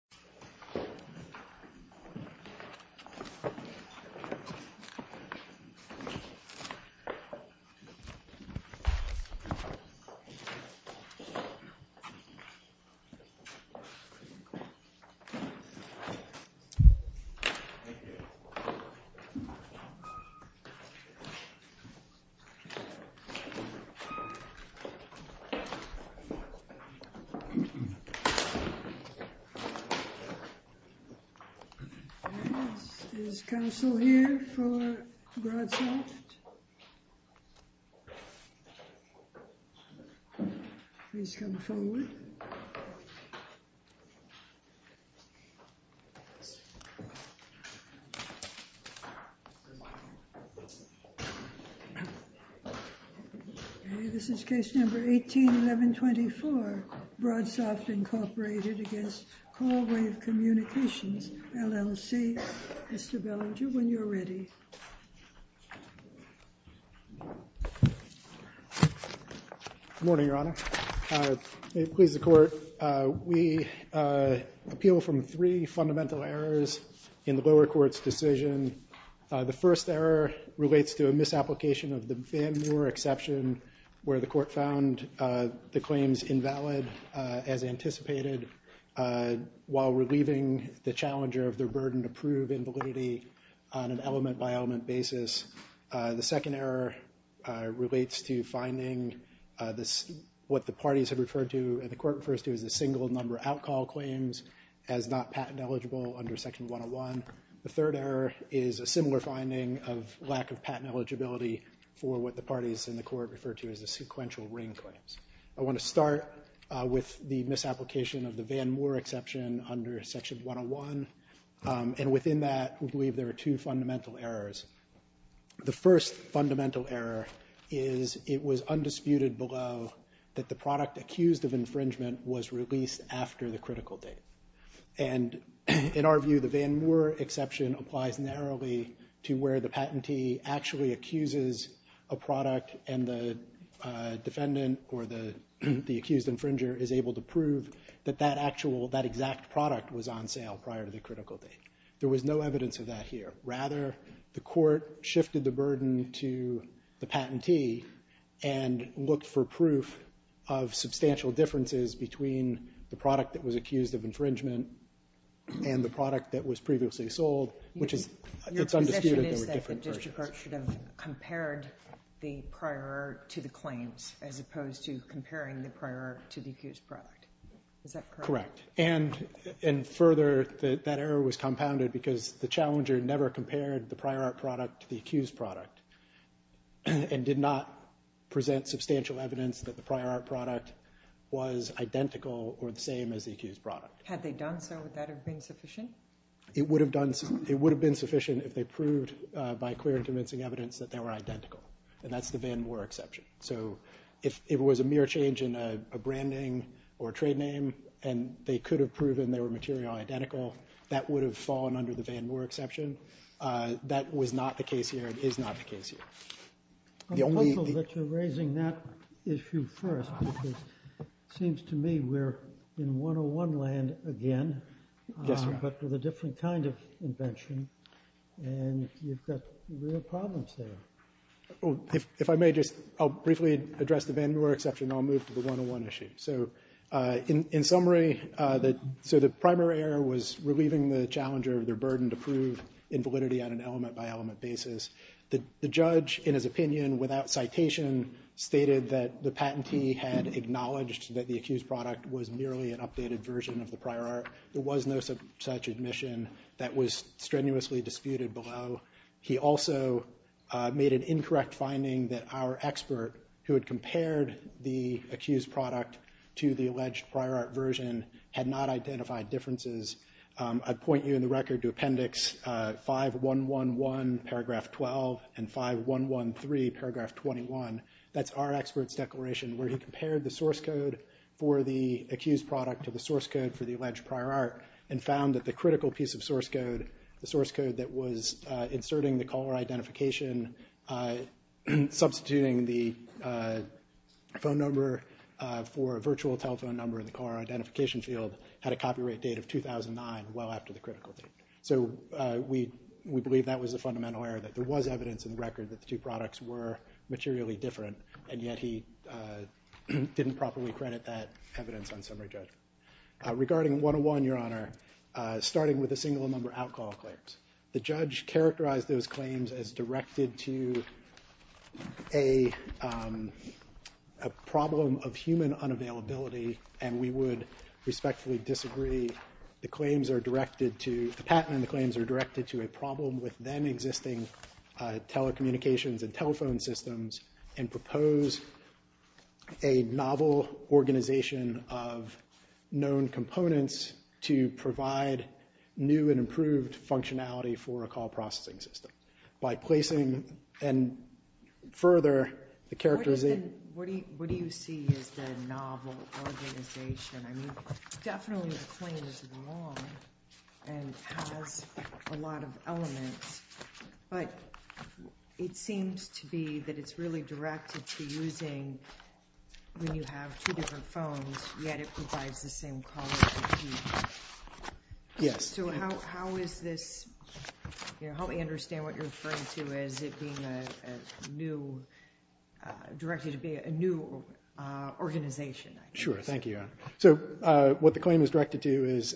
CallWave is a licensed audio and video production company. This is case number 18-1124, Broadsoft Inc. v. CallWave Communications LLC. Mr. Bellinger, when you're ready. Good morning, Your Honor. May it please the Court, we appeal from three fundamental errors in the lower court's decision. The first error relates to a misapplication of the Van Muir exception, where the Court found the claims invalid as anticipated, while relieving the challenger of their burden to prove invalidity on an element-by-element basis. The second error relates to finding what the parties have referred to and the Court refers to as a single number outcall claims as not patent eligible under Section 101. The third error is a similar finding of lack of patent eligibility for what the parties and the Court refer to as the sequential ring claims. I want to start with the misapplication of the Van Muir exception under Section 101, and within that we believe there are two fundamental errors. The first fundamental error is it was undisputed below that the product accused of infringement was released after the critical date. In our view, the Van Muir exception applies narrowly to where the patentee actually accuses a product and the defendant or the accused infringer is able to prove that that exact product was on sale prior to the critical date. There was no evidence of that here. Rather, the Court shifted the burden to the patentee and looked for proof of substantial differences between the product that was accused of infringement and the product that was previously sold, which is undisputed. Your position is that the district court should have compared the prior to the claims as opposed to comparing the prior to the accused product. Is that correct? Correct. And further, that error was compounded because the challenger never compared the prior product to the accused product and did not present substantial evidence that the prior product was identical or the same as the accused product. Had they done so, would that have been sufficient? It would have been sufficient if they proved by clear and convincing evidence that they were identical, and that's the Van Muir exception. So if it was a mere change in a branding or trade name and they could have proven they were material identical, that would have fallen under the Van Muir exception. That was not the case here and is not the case here. I'm hopeful that you're raising that issue first because it seems to me we're in 101 land again, but with a different kind of invention, and you've got real problems there. If I may, I'll briefly address the Van Muir exception and I'll move to the 101 issue. So in summary, the primary error was relieving the challenger of their burden to prove invalidity on an element-by-element basis. The judge, in his opinion, without citation, stated that the patentee had acknowledged that the accused product was merely an updated version of the prior art. There was no such admission that was strenuously disputed below. He also made an incorrect finding that our expert, who had compared the accused product to the alleged prior art version, had not identified differences. I'd point you in the record to Appendix 5111, Paragraph 12, and 5113, Paragraph 21. That's our expert's declaration where he compared the source code for the accused product to the source code for the alleged prior art and found that the critical piece of source code, the source code that was inserting the caller identification, substituting the phone number for a virtual telephone number in the caller identification field, had a copyright date of 2009, well after the critical piece. So we believe that was a fundamental error, that there was evidence in the record that the two products were materially different, and yet he didn't properly credit that evidence on summary judgment. Regarding 101, Your Honor, starting with the single-number outcall claims, the judge characterized those claims as directed to a problem of human unavailability, and we would respectfully disagree. The patent and the claims are directed to a problem with then-existing telecommunications and telephone systems and propose a novel organization of known components to provide new and improved functionality for a call processing system. What do you see as the novel organization? I mean, definitely the claim is wrong and has a lot of elements, but it seems to be that it's really directed to using when you have two different phones, yet it provides the same call as the two. Yes? So how is this, how do we understand what you're referring to as it being a new, directed to be a new organization? Sure, thank you, Your Honor. So what the claim is directed to is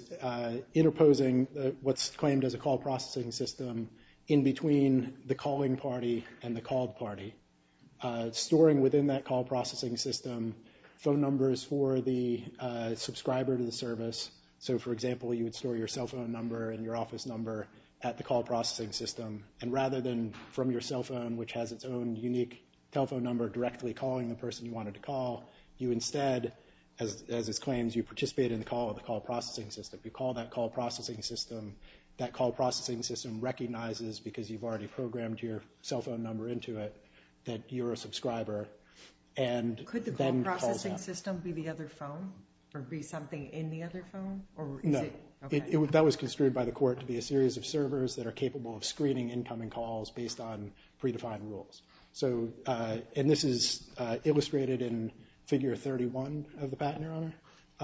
interposing what's claimed as a call processing system in between the calling party and the called party, storing within that call processing system phone numbers for the subscriber to the service. So, for example, you would store your cell phone number and your office number at the call processing system, and rather than from your cell phone, which has its own unique telephone number directly calling the person you wanted to call, you instead, as is claimed, you participate in the call of the call processing system. You call that call processing system. That call processing system recognizes, because you've already programmed your cell phone number into it, that you're a subscriber. Could the call processing system be the other phone, or be something in the other phone? No. That was construed by the court to be a series of servers that are capable of screening incoming calls based on predefined rules. So, and this is illustrated in Figure 31 of the Patent, Your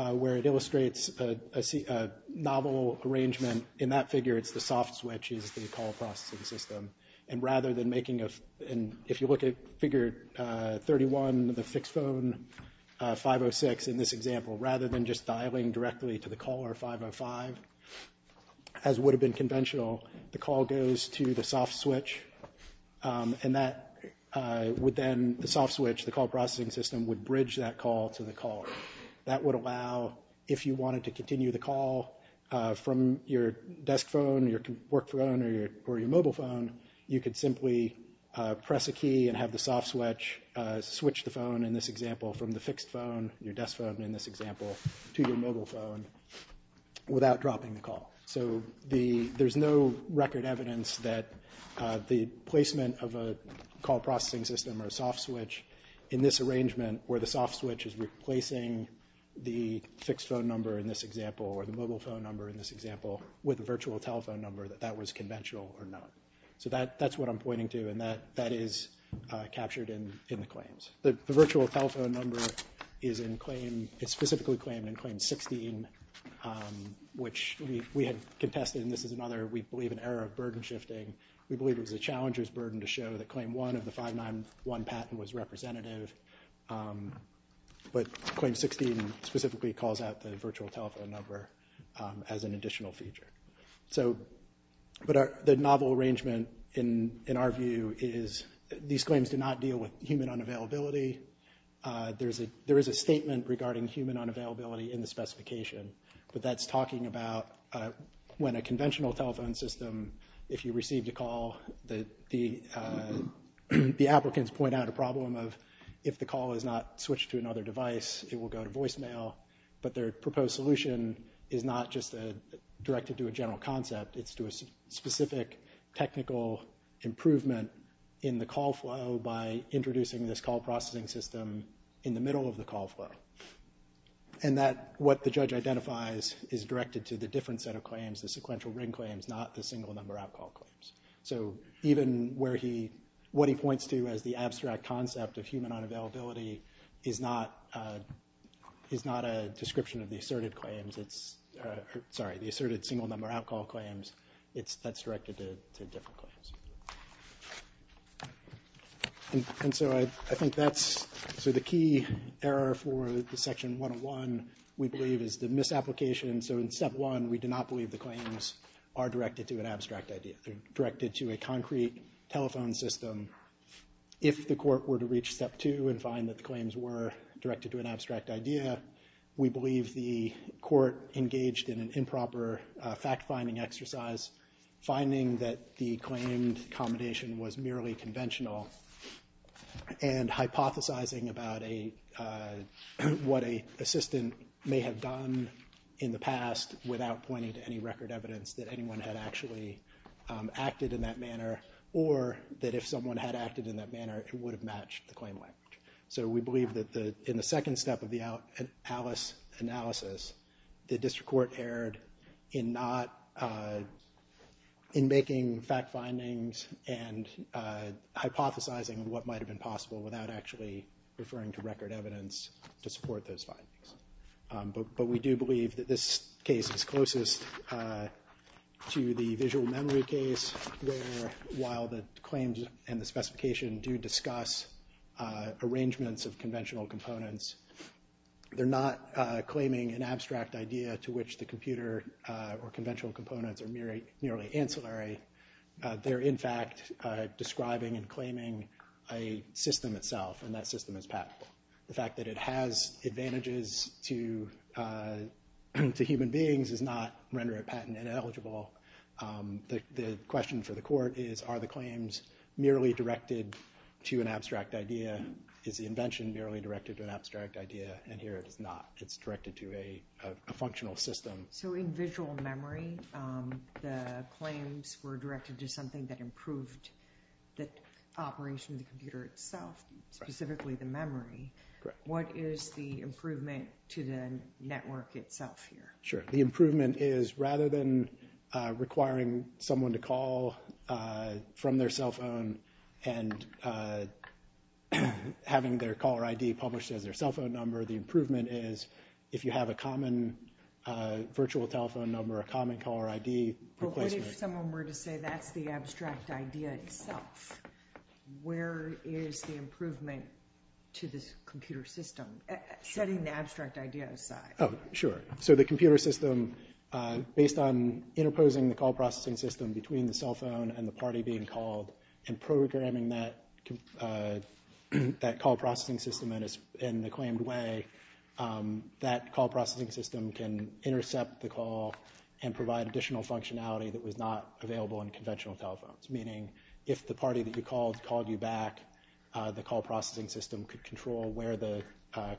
Honor, where it illustrates a novel arrangement. In that figure, it's the soft switch is the call processing system, and rather than making a, and if you look at Figure 31, the fixed phone 506 in this example, rather than just dialing directly to the caller 505, as would have been conventional, the call goes to the soft switch, and that would then, the soft switch, the call processing system, would bridge that call to the caller. That would allow, if you wanted to continue the call from your desk phone or your work phone or your mobile phone, you could simply press a key and have the soft switch switch the phone, in this example, from the fixed phone, your desk phone in this example, to your mobile phone without dropping the call. So there's no record evidence that the placement of a call processing system or a soft switch in this arrangement, where the soft switch is replacing the fixed phone number in this example or the mobile phone number in this example with a virtual telephone number, that that was conventional or not. So that's what I'm pointing to, and that is captured in the claims. The virtual telephone number is in claim, it's specifically claimed in Claim 16, which we had contested, and this is another, we believe, an era of burden shifting. We believe it was a challenger's burden to show that Claim 1 of the 591 patent was representative, but Claim 16 specifically calls out the virtual telephone number as an additional feature. But the novel arrangement, in our view, is these claims do not deal with human unavailability. There is a statement regarding human unavailability in the specification, but that's talking about when a conventional telephone system, if you received a call, the applicants point out a problem of if the call is not switched to another device, it will go to voicemail, but their proposed solution is not just directed to a general concept, it's to a specific technical improvement in the call flow by introducing this call processing system in the middle of the call flow. And that, what the judge identifies, is directed to the different set of claims, the sequential ring claims, not the single number out call claims. So even where he, what he points to as the abstract concept of human unavailability is not a description of the asserted claims, sorry, the asserted single number out call claims, that's directed to different claims. And so I think that's, so the key error for the Section 101, we believe is the misapplication, so in Step 1, we do not believe the claims are directed to an abstract idea. They're directed to a concrete telephone system. If the court were to reach Step 2 and find that the claims were directed to an abstract idea, we believe the court engaged in an improper fact-finding exercise, finding that the claimed accommodation was merely conventional, and hypothesizing about a, what a assistant may have done in the past without pointing to any record evidence that anyone had actually acted in that manner, or that if someone had acted in that manner, it would have matched the claim language. So we believe that in the second step of the ALICE analysis, the district court erred in not, in making fact findings and hypothesizing what might have been possible without actually referring to record evidence to support those findings. But we do believe that this case is closest to the visual memory case, where while the claims and the specification do discuss arrangements of conventional components, they're not claiming an abstract idea to which the computer or conventional components are merely ancillary. They're, in fact, describing and claiming a system itself, and that system is practical. The fact that it has advantages to human beings does not render it patent ineligible. The question for the court is, are the claims merely directed to an abstract idea? Is the invention merely directed to an abstract idea? And here it is not. It's directed to a functional system. So in visual memory, the claims were directed to something that improved the operation of the computer itself, specifically the memory. What is the improvement to the network itself here? Sure. The improvement is rather than requiring someone to call from their cell phone and having their caller ID published as their cell phone number, the improvement is if you have a common virtual telephone number, a common caller ID. But what if someone were to say that's the abstract idea itself? Where is the improvement to this computer system, setting the abstract idea aside? Oh, sure. So the computer system, based on interposing the call processing system between the cell phone and the party being called and programming that call processing system in the claimed way, that call processing system can intercept the call and provide additional functionality that was not available in conventional telephones. Meaning if the party that you called called you back, the call processing system could control where the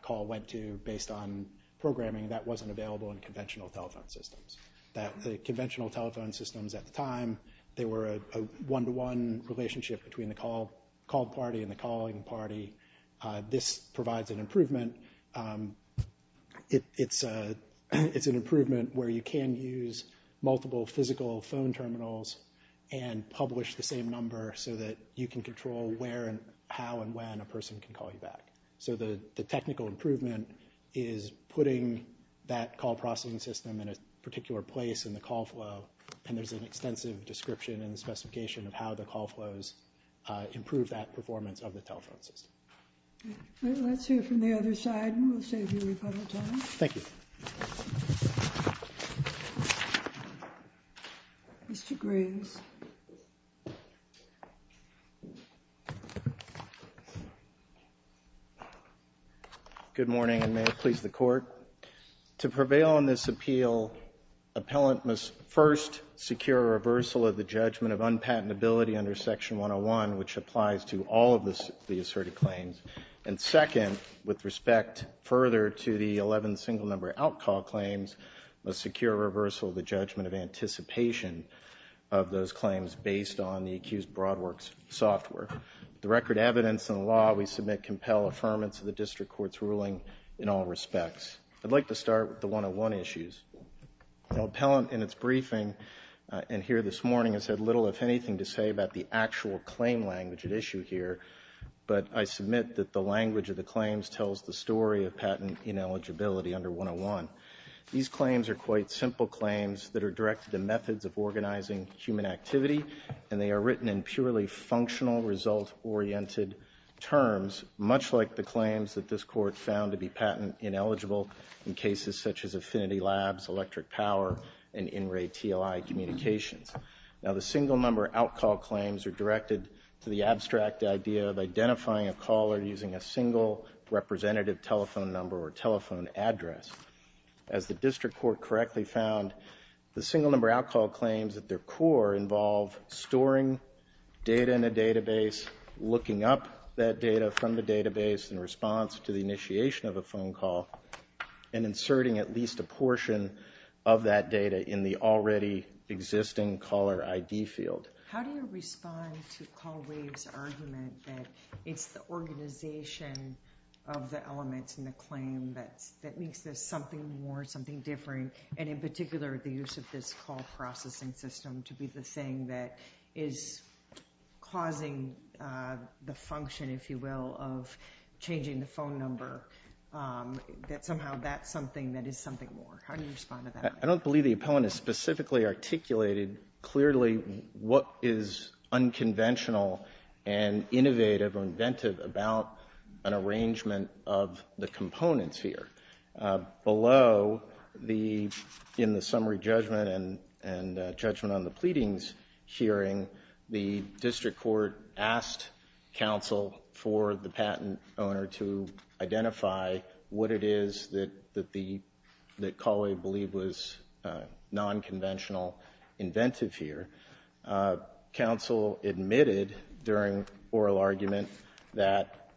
call went to based on programming that wasn't available in conventional telephone systems. The conventional telephone systems at the time, they were a one-to-one relationship between the called party and the calling party. This provides an improvement. It's an improvement where you can use multiple physical phone terminals and publish the same number so that you can control where and how and when a person can call you back. So the technical improvement is putting that call processing system in a particular place in the call flow, and there's an extensive description and specification of how the call flows improve that performance of the telephone system. Let's hear from the other side, and we'll save you a little time. Thank you. Mr. Graves. Good morning, and may it please the Court. To prevail on this appeal, appellant must first secure a reversal of the judgment of unpatentability under Section 101, which applies to all of the asserted claims. And second, with respect further to the 11 single-number out-call claims, must secure a reversal of the judgment of anticipation of those claims based on the accused Broadworks software. With the record, evidence, and law, we submit compelled affirmance of the district court's ruling in all respects. I'd like to start with the 101 issues. Appellant, in its briefing in here this morning, has had little, if anything, to say about the actual claim language at issue here, but I submit that the language of the claims tells the story of patent ineligibility under 101. These claims are quite simple claims that are directed to methods of organizing human activity, and they are written in purely functional result-oriented terms, much like the claims that this Court found to be patent ineligible in cases such as Affinity Labs, electric power, and in-ray TLI communications. Now, the single-number out-call claims are directed to the abstract idea of identifying a caller using a single representative telephone number or telephone address. As the district court correctly found, the single-number out-call claims at their core involve storing data in a database, looking up that data from the database in response to the initiation of a phone call, and inserting at least a portion of that data in the already existing caller ID field. How do you respond to CallWave's argument that it's the organization of the elements in the claim that makes this something more, something different, and in particular the use of this call processing system to be the thing that is causing the function, if you will, of changing the phone number, that somehow that's something that is something more? How do you respond to that? I don't believe the opponent has specifically articulated clearly what is unconventional and innovative or inventive about an arrangement of the components here. Below, in the summary judgment and judgment on the pleadings hearing, the district court asked counsel for the patent owner to identify what it is that CallWave believed was nonconventional, inventive here. Counsel admitted during oral argument that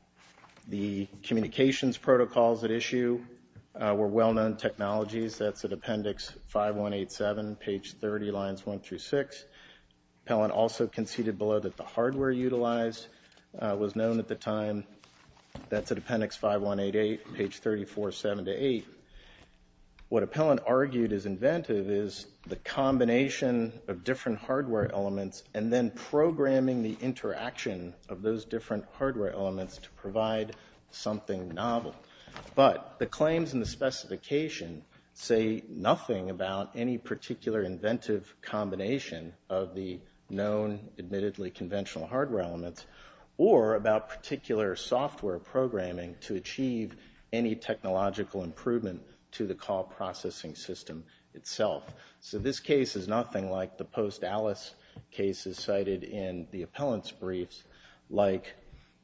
the communications protocols at issue were well-known technologies. That's at appendix 5187, page 30, lines 1 through 6. Appellant also conceded below that the hardware utilized was known at the time. That's at appendix 5188, page 34, 7 to 8. What Appellant argued is inventive is the combination of different hardware elements and then programming the interaction of those different hardware elements to provide something novel. But the claims in the specification say nothing about any particular inventive combination of the known admittedly conventional hardware elements or about particular software programming to achieve any technological improvement to the call processing system itself. So this case is nothing like the post-Alice cases cited in the appellant's briefs like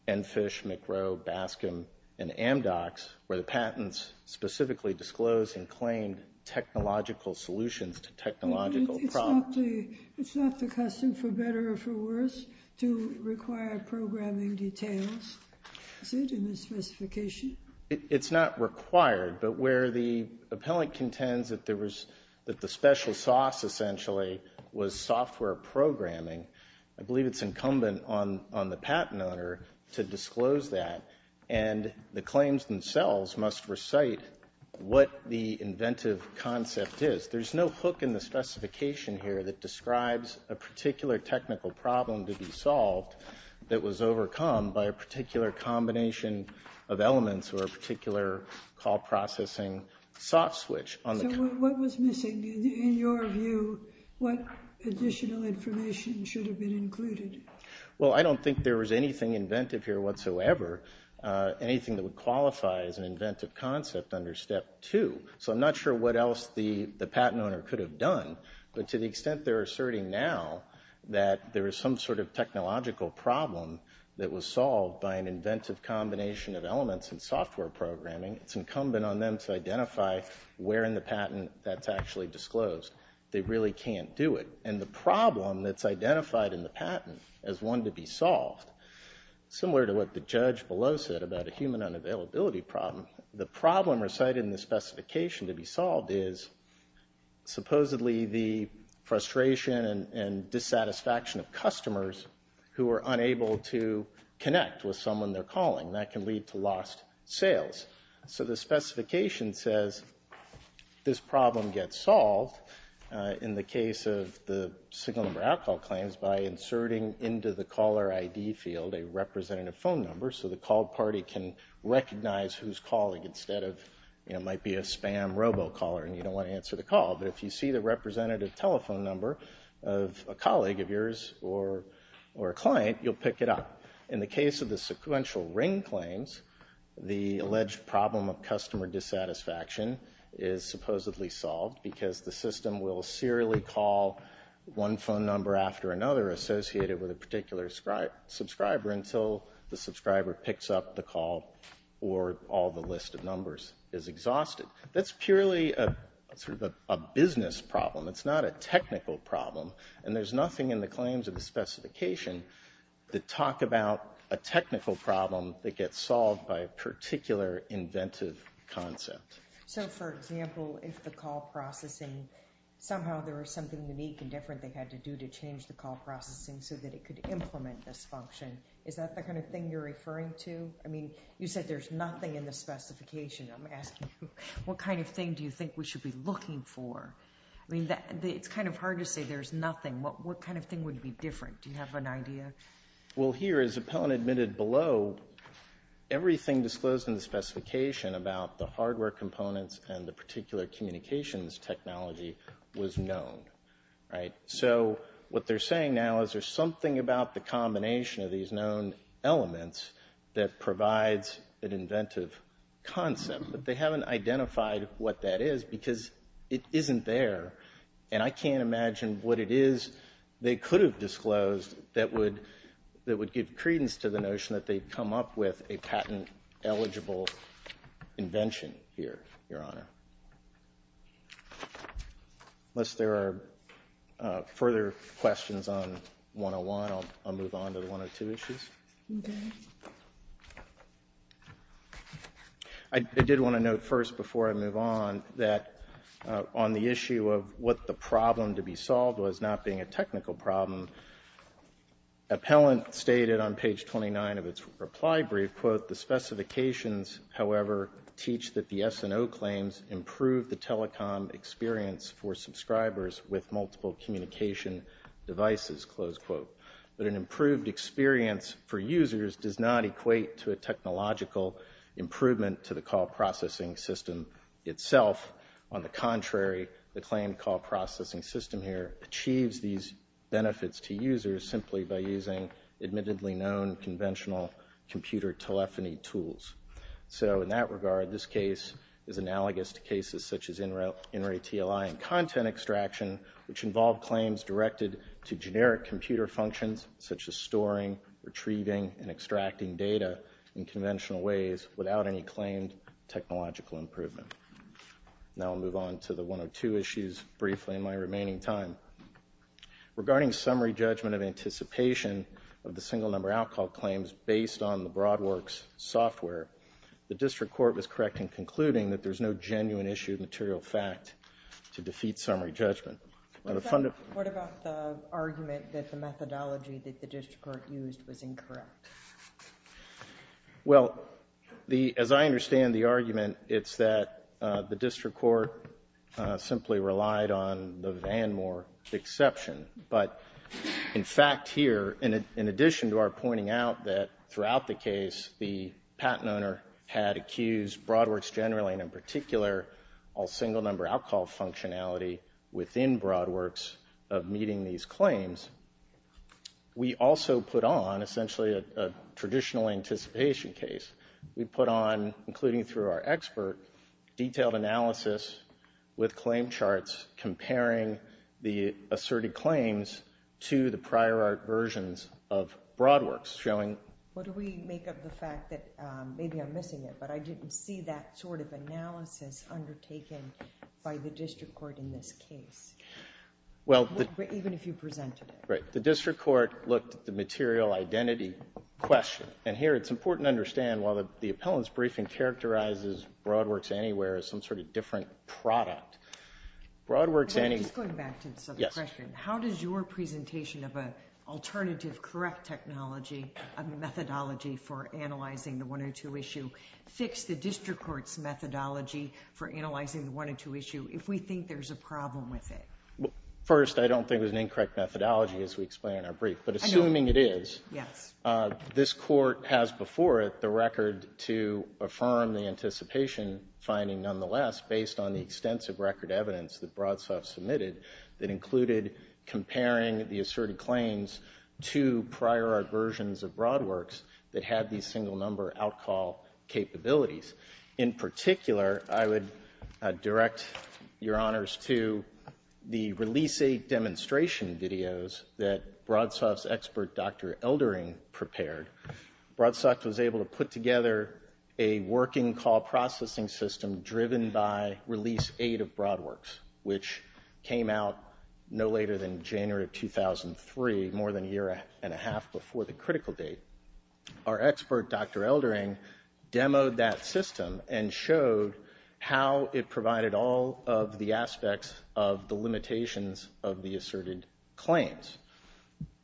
Enfish, McRow, Baskin, and Amdocs, where the patents specifically disclosed and claimed technological solutions to technological problems. It's not the custom, for better or for worse, to require programming details, is it, in the specification? It's not required. But where the appellant contends that there was the special sauce essentially was software programming, I believe it's incumbent on the patent owner to disclose that, and the claims themselves must recite what the inventive concept is. There's no hook in the specification here that describes a particular technical problem to be solved that was overcome by a particular combination of elements or a particular call processing soft switch. So what was missing? In your view, what additional information should have been included? Well, I don't think there was anything inventive here whatsoever, anything that would qualify as an inventive concept under Step 2. So I'm not sure what else the patent owner could have done, but to the extent they're asserting now that there is some sort of technological problem that was solved by an inventive combination of elements and software programming, it's incumbent on them to identify where in the patent that's actually disclosed. They really can't do it. And the problem that's identified in the patent as one to be solved, similar to what the judge below said about a human unavailability problem, the problem recited in the specification to be solved is supposedly the frustration and dissatisfaction of customers who are unable to connect with someone they're calling. That can lead to lost sales. So the specification says this problem gets solved in the case of the signal number out call claims by inserting into the caller ID field a representative phone number so the call party can recognize who's calling instead of, you know, it might be a spam robocaller and you don't want to answer the call. But if you see the representative telephone number of a colleague of yours or a client, you'll pick it up. In the case of the sequential ring claims, the alleged problem of customer dissatisfaction is supposedly solved because the system will serially call one phone number after another associated with a particular subscriber until the subscriber picks up the call or all the list of numbers is exhausted. That's purely a business problem. It's not a technical problem. And there's nothing in the claims of the specification that talk about a technical problem that gets solved by a particular inventive concept. So, for example, if the call processing, somehow there was something unique and different they had to do to change the call processing so that it could implement this function, is that the kind of thing you're referring to? I mean, you said there's nothing in the specification. I'm asking you what kind of thing do you think we should be looking for? I mean, it's kind of hard to say there's nothing. What kind of thing would be different? Do you have an idea? Well, here, as Appellant admitted below, everything disclosed in the specification about the hardware components and the particular communications technology was known, right? So what they're saying now is there's something about the combination of these known elements that provides an inventive concept. But they haven't identified what that is because it isn't there. And I can't imagine what it is they could have disclosed that would give credence to the notion that they'd come up with a patent-eligible invention here, Your Honor. Unless there are further questions on 101, I'll move on to the 102 issues. I did want to note first, before I move on, that on the issue of what the problem to be solved was, not being a technical problem, Appellant stated on page 29 of its reply brief, quote, the specifications, however, teach that the S&O claims improve the telecom experience for subscribers with multiple communication devices, close quote. But an improved experience for users does not equate to a technological improvement to the call processing system itself. On the contrary, the claim call processing system here achieves these benefits to users simply by using admittedly known conventional computer telephony tools. So in that regard, this case is analogous to cases such as InRay TLI and content extraction, which involve claims directed to generic computer functions such as storing, retrieving, and extracting data in conventional ways without any claimed technological improvement. Now I'll move on to the 102 issues briefly in my remaining time. Regarding summary judgment of anticipation of the single number outcall claims based on the BroadWorks software, the district court was correct in concluding that there's no genuine issue of material fact to defeat summary judgment. What about the argument that the methodology that the district court used was incorrect? Well, as I understand the argument, it's that the district court simply relied on the VanMoor exception. But in fact here, in addition to our pointing out that throughout the case, the patent owner had accused BroadWorks generally, and in particular, all single number outcall functionality within BroadWorks of meeting these claims, we also put on essentially a traditional anticipation case. We put on, including through our expert, detailed analysis with claim charts comparing the asserted claims to the prior art versions of BroadWorks showing... What do we make of the fact that, maybe I'm missing it, but I didn't see that sort of analysis undertaken by the district court in this case, even if you presented it. Right. The district court looked at the material identity question. And here it's important to understand, while the appellant's briefing characterizes BroadWorks Anywhere as some sort of different product, BroadWorks Any... Just going back to this other question, how does your presentation of an alternative correct technology, a methodology for analyzing the 102 issue, fix the district court's methodology for analyzing the 102 issue if we think there's a problem with it? First, I don't think it was an incorrect methodology as we explain in our brief. But assuming it is, this court has before it the record to affirm the anticipation finding, nonetheless, based on the extensive record evidence that BroadSoft submitted that included comparing the asserted claims to prior art versions of BroadWorks that had these single-number out-call capabilities. In particular, I would direct your honors to the release-aid demonstration videos that BroadSoft's expert, Dr. Eldering, prepared. BroadSoft was able to put together a working call processing system driven by release-aid of BroadWorks, which came out no later than January of 2003, more than a year and a half before the critical date. Our expert, Dr. Eldering, demoed that system and showed how it provided all of the aspects of the limitations of the asserted claims.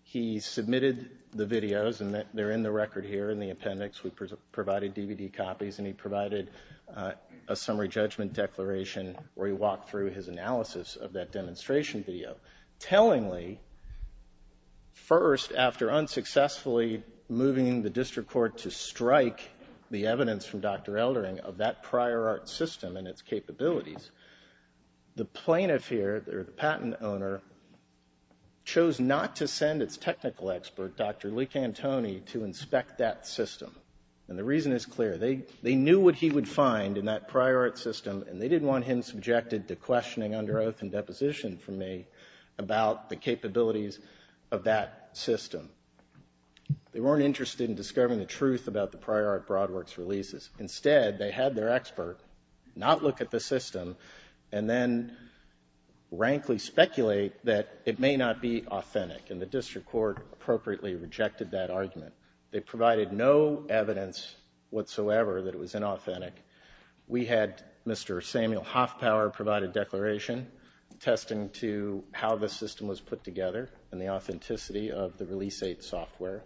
He submitted the videos, and they're in the record here in the appendix. We provided DVD copies, and he provided a summary judgment declaration where he walked through his analysis of that demonstration video. Tellingly, first, after unsuccessfully moving the district court to strike the evidence from Dr. Eldering of that prior art system and its capabilities, the plaintiff here, the patent owner, chose not to send its technical expert, Dr. Leak-Antoni, to inspect that system. And the reason is clear. They knew what he would find in that prior art system, and they didn't want him subjected to questioning under oath and deposition from me about the capabilities of that system. They weren't interested in discovering the truth about the prior art BroadWorks releases. Instead, they had their expert not look at the system and then rankly speculate that it may not be authentic, and the district court appropriately rejected that argument. They provided no evidence whatsoever that it was inauthentic. We had Mr. Samuel Hoffpower provide a declaration attesting to how the system was put together and the authenticity of the Release 8 software.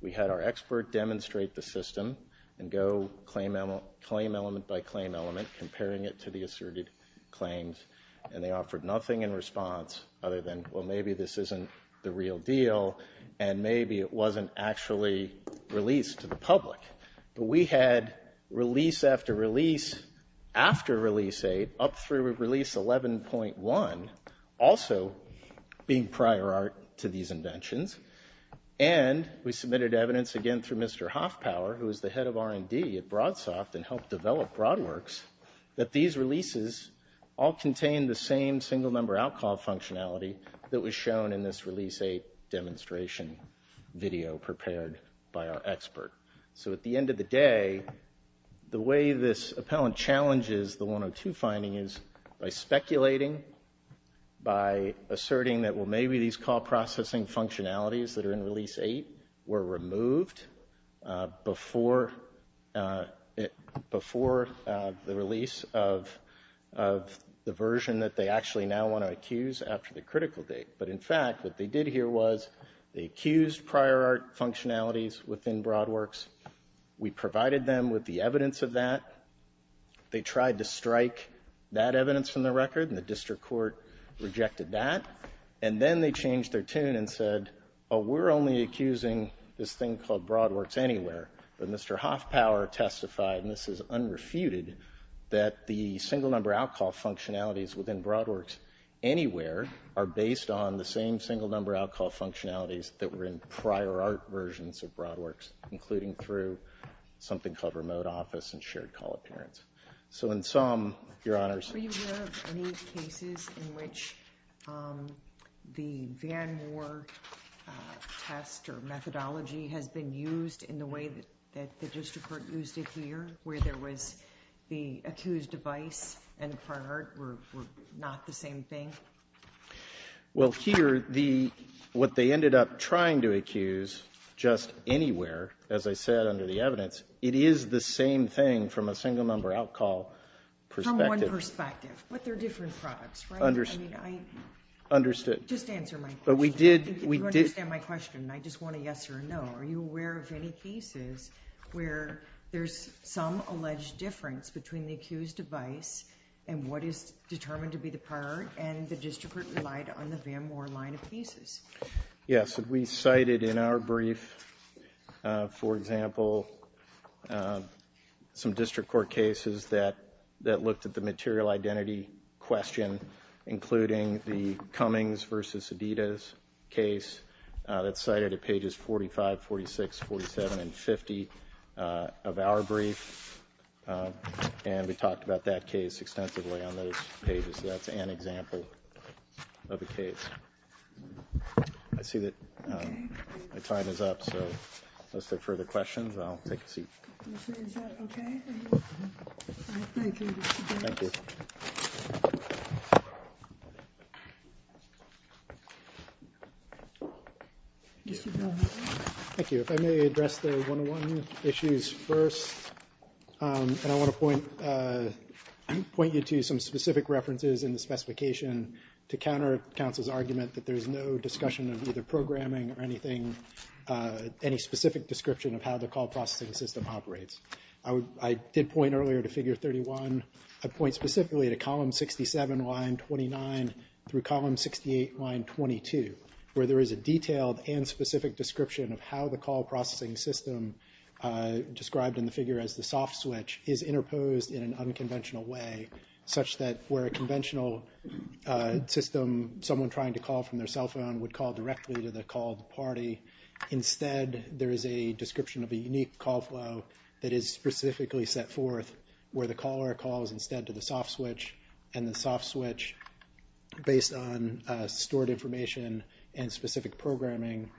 We had our expert demonstrate the system and go claim element by claim element, comparing it to the asserted claims, and they offered nothing in response other than, well, maybe this isn't the real deal, and maybe it wasn't actually released to the public. But we had release after release after Release 8 up through Release 11.1 also being prior art to these inventions, and we submitted evidence again through Mr. Hoffpower, who is the head of R&D at BroadSoft and helped develop BroadWorks, that these releases all contain the same single number out-call functionality that was shown in this Release 8 demonstration video prepared by our expert. So at the end of the day, the way this appellant challenges the 102 finding is by speculating, by asserting that, well, maybe these call processing functionalities that are in Release 8 were removed before the release of the version that they actually now want to accuse after the critical date. But, in fact, what they did here was they accused prior art functionalities within BroadWorks. We provided them with the evidence of that. They tried to strike that evidence from the record, and the district court rejected that. And then they changed their tune and said, oh, we're only accusing this thing called BroadWorks Anywhere. But Mr. Hoffpower testified, and this is unrefuted, that the single number out-call functionalities within BroadWorks Anywhere are based on the same single number out-call functionalities that were in prior art versions of BroadWorks, including through something called Remote Office and Shared Call Appearance. So in sum, Your Honors. Are you aware of any cases in which the Van Moor test or methodology has been used in the way that the district court used it here, where there was the accused device and prior art were not the same thing? Well, here, what they ended up trying to accuse, just Anywhere, as I said under the evidence, it is the same thing from a single number out-call perspective. From one perspective, but they're different products, right? Understood. Just answer my question. But we did. You understand my question, and I just want a yes or a no. Are you aware of any cases where there's some alleged difference between the accused device and what is determined to be the prior art, and the district court relied on the Van Moor line of pieces? Yes. We cited in our brief, for example, some district court cases that looked at the material identity question, including the Cummings v. Adidas case that's cited at pages 45, 46, 47, and 50 of our brief. And we talked about that case extensively on those pages. So that's an example of a case. I see that my time is up, so let's take further questions, and I'll take a seat. Is that okay? Thank you. Thank you. Thank you. Thank you. If I may address the 101 issues first, and I want to point you to some specific references in the specification to counter counsel's argument that there's no discussion of either programming or anything, any specific description of how the call processing system operates. I did point earlier to figure 31. I point specifically to column 67, line 29, through column 68, line 22, where there is a detailed and specific description of how the call processing system, described in the figure as the soft switch, is interposed in an unconventional way, such that where a conventional system, someone trying to call from their cell phone, would call directly to the call party, instead there is a description of a unique call flow that is specifically set forth where the caller calls instead to the soft switch, and the soft switch, based on stored information and specific programming,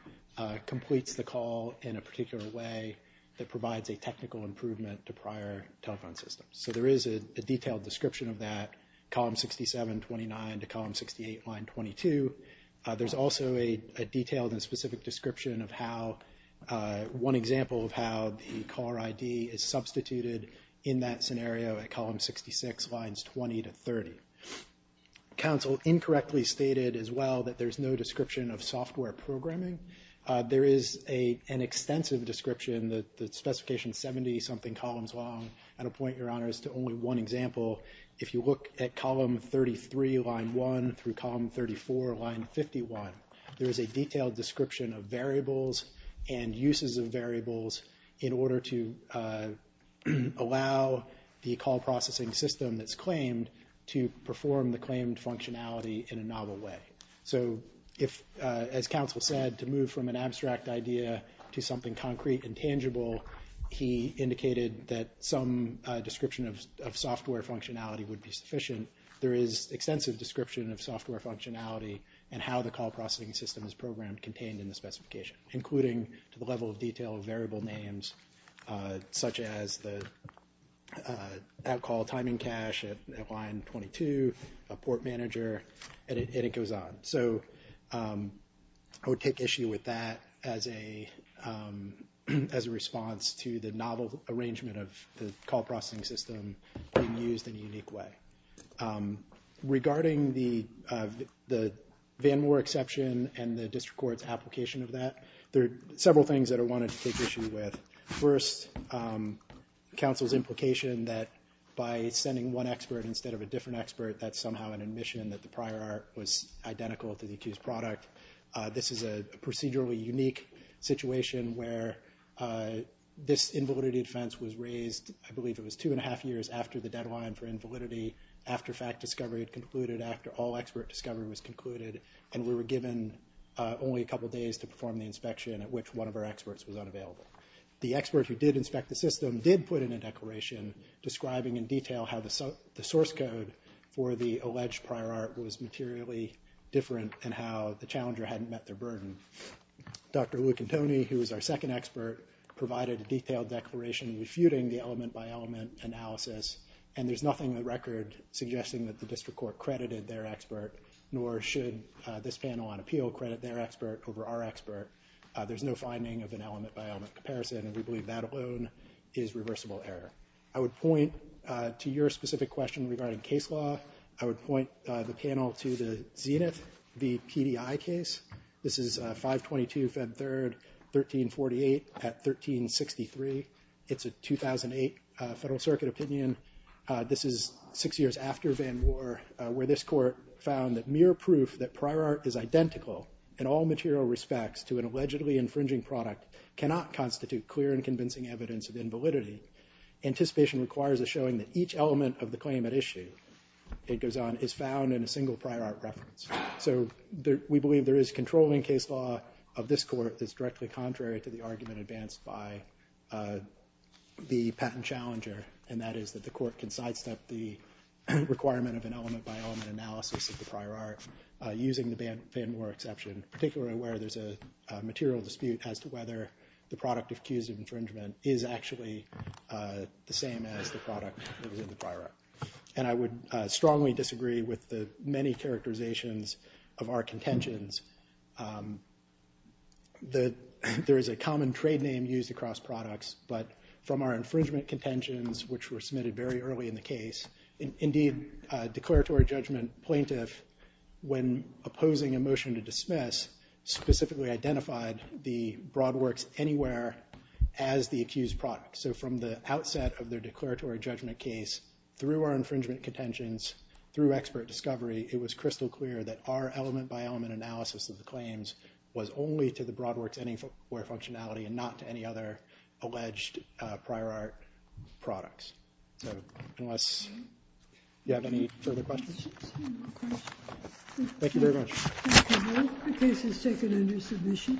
completes the call in a particular way that provides a technical improvement to prior telephone systems. So there is a detailed description of that, column 67, 29, to column 68, line 22. There's also a detailed and specific description of how one example of how the caller ID is substituted in that scenario at column 66, lines 20 to 30. Council incorrectly stated as well that there's no description of software programming. There is an extensive description, the specification is 70-something columns long. And I'll point your honors to only one example. If you look at column 33, line 1, through column 34, line 51, there is a detailed description of variables and uses of variables in order to allow the call processing system that's claimed to perform the claimed functionality in a novel way. So if, as Council said, to move from an abstract idea to something concrete and tangible, he indicated that some description of software functionality would be sufficient. There is extensive description of software functionality and how the call processing system is programmed contained in the specification, including the level of detail of variable names, such as the out-call timing cache at line 22, a port manager, and it goes on. So I would take issue with that as a response to the novel arrangement of the call processing system being used in a unique way. Regarding the Van Moore exception and the district court's application of that, there are several things that I wanted to take issue with. First, Council's implication that by sending one expert instead of a different expert, that's somehow an admission that the prior art was identical to the accused product. This is a procedurally unique situation where this invalidity defense was raised, I believe it was two and a half years after the deadline for invalidity, after fact discovery had concluded, after all expert discovery was concluded, and we were given only a couple days to perform the inspection at which one of our experts was unavailable. The expert who did inspect the system did put in a declaration describing in detail how the source code for the alleged prior art was materially different and how the challenger hadn't met their burden. Dr. Luke and Tony, who was our second expert, provided a detailed declaration refuting the element-by-element analysis, and there's nothing on the record suggesting that the district court credited their expert, nor should this panel on appeal credit their expert over our expert. There's no finding of an element-by-element comparison, and we believe that alone is reversible error. I would point to your specific question regarding case law. I would point the panel to the Zenith v. PDI case. This is 5-22, Feb. 3, 1348 at 1363. It's a 2008 Federal Circuit opinion. This is six years after Van War, where this court found that mere proof that prior art is identical in all material respects to an allegedly infringing product cannot constitute clear and convincing evidence of invalidity. Anticipation requires a showing that each element of the claim at issue is found in a single prior art reference. So we believe there is controlling case law of this court that's directly contrary to the argument advanced by the patent challenger, and that is that the court can sidestep the requirement of an element-by-element analysis of the prior art using the Van War exception, particularly where there's a material dispute as to whether the product accused of infringement is actually the same as the product that was in the prior art. And I would strongly disagree with the many characterizations of our contentions. There is a common trade name used across products, but from our infringement contentions, which were submitted very early in the case, indeed, a declaratory judgment plaintiff, when opposing a motion to dismiss, specifically identified the broad works anywhere as the accused product. So from the outset of their declaratory judgment case through our infringement contentions, through expert discovery, it was crystal clear that our element-by-element analysis of the claims was only to the broad works anywhere functionality and not to any other alleged prior art products. So unless you have any further questions. Thank you very much. The case is taken under submission.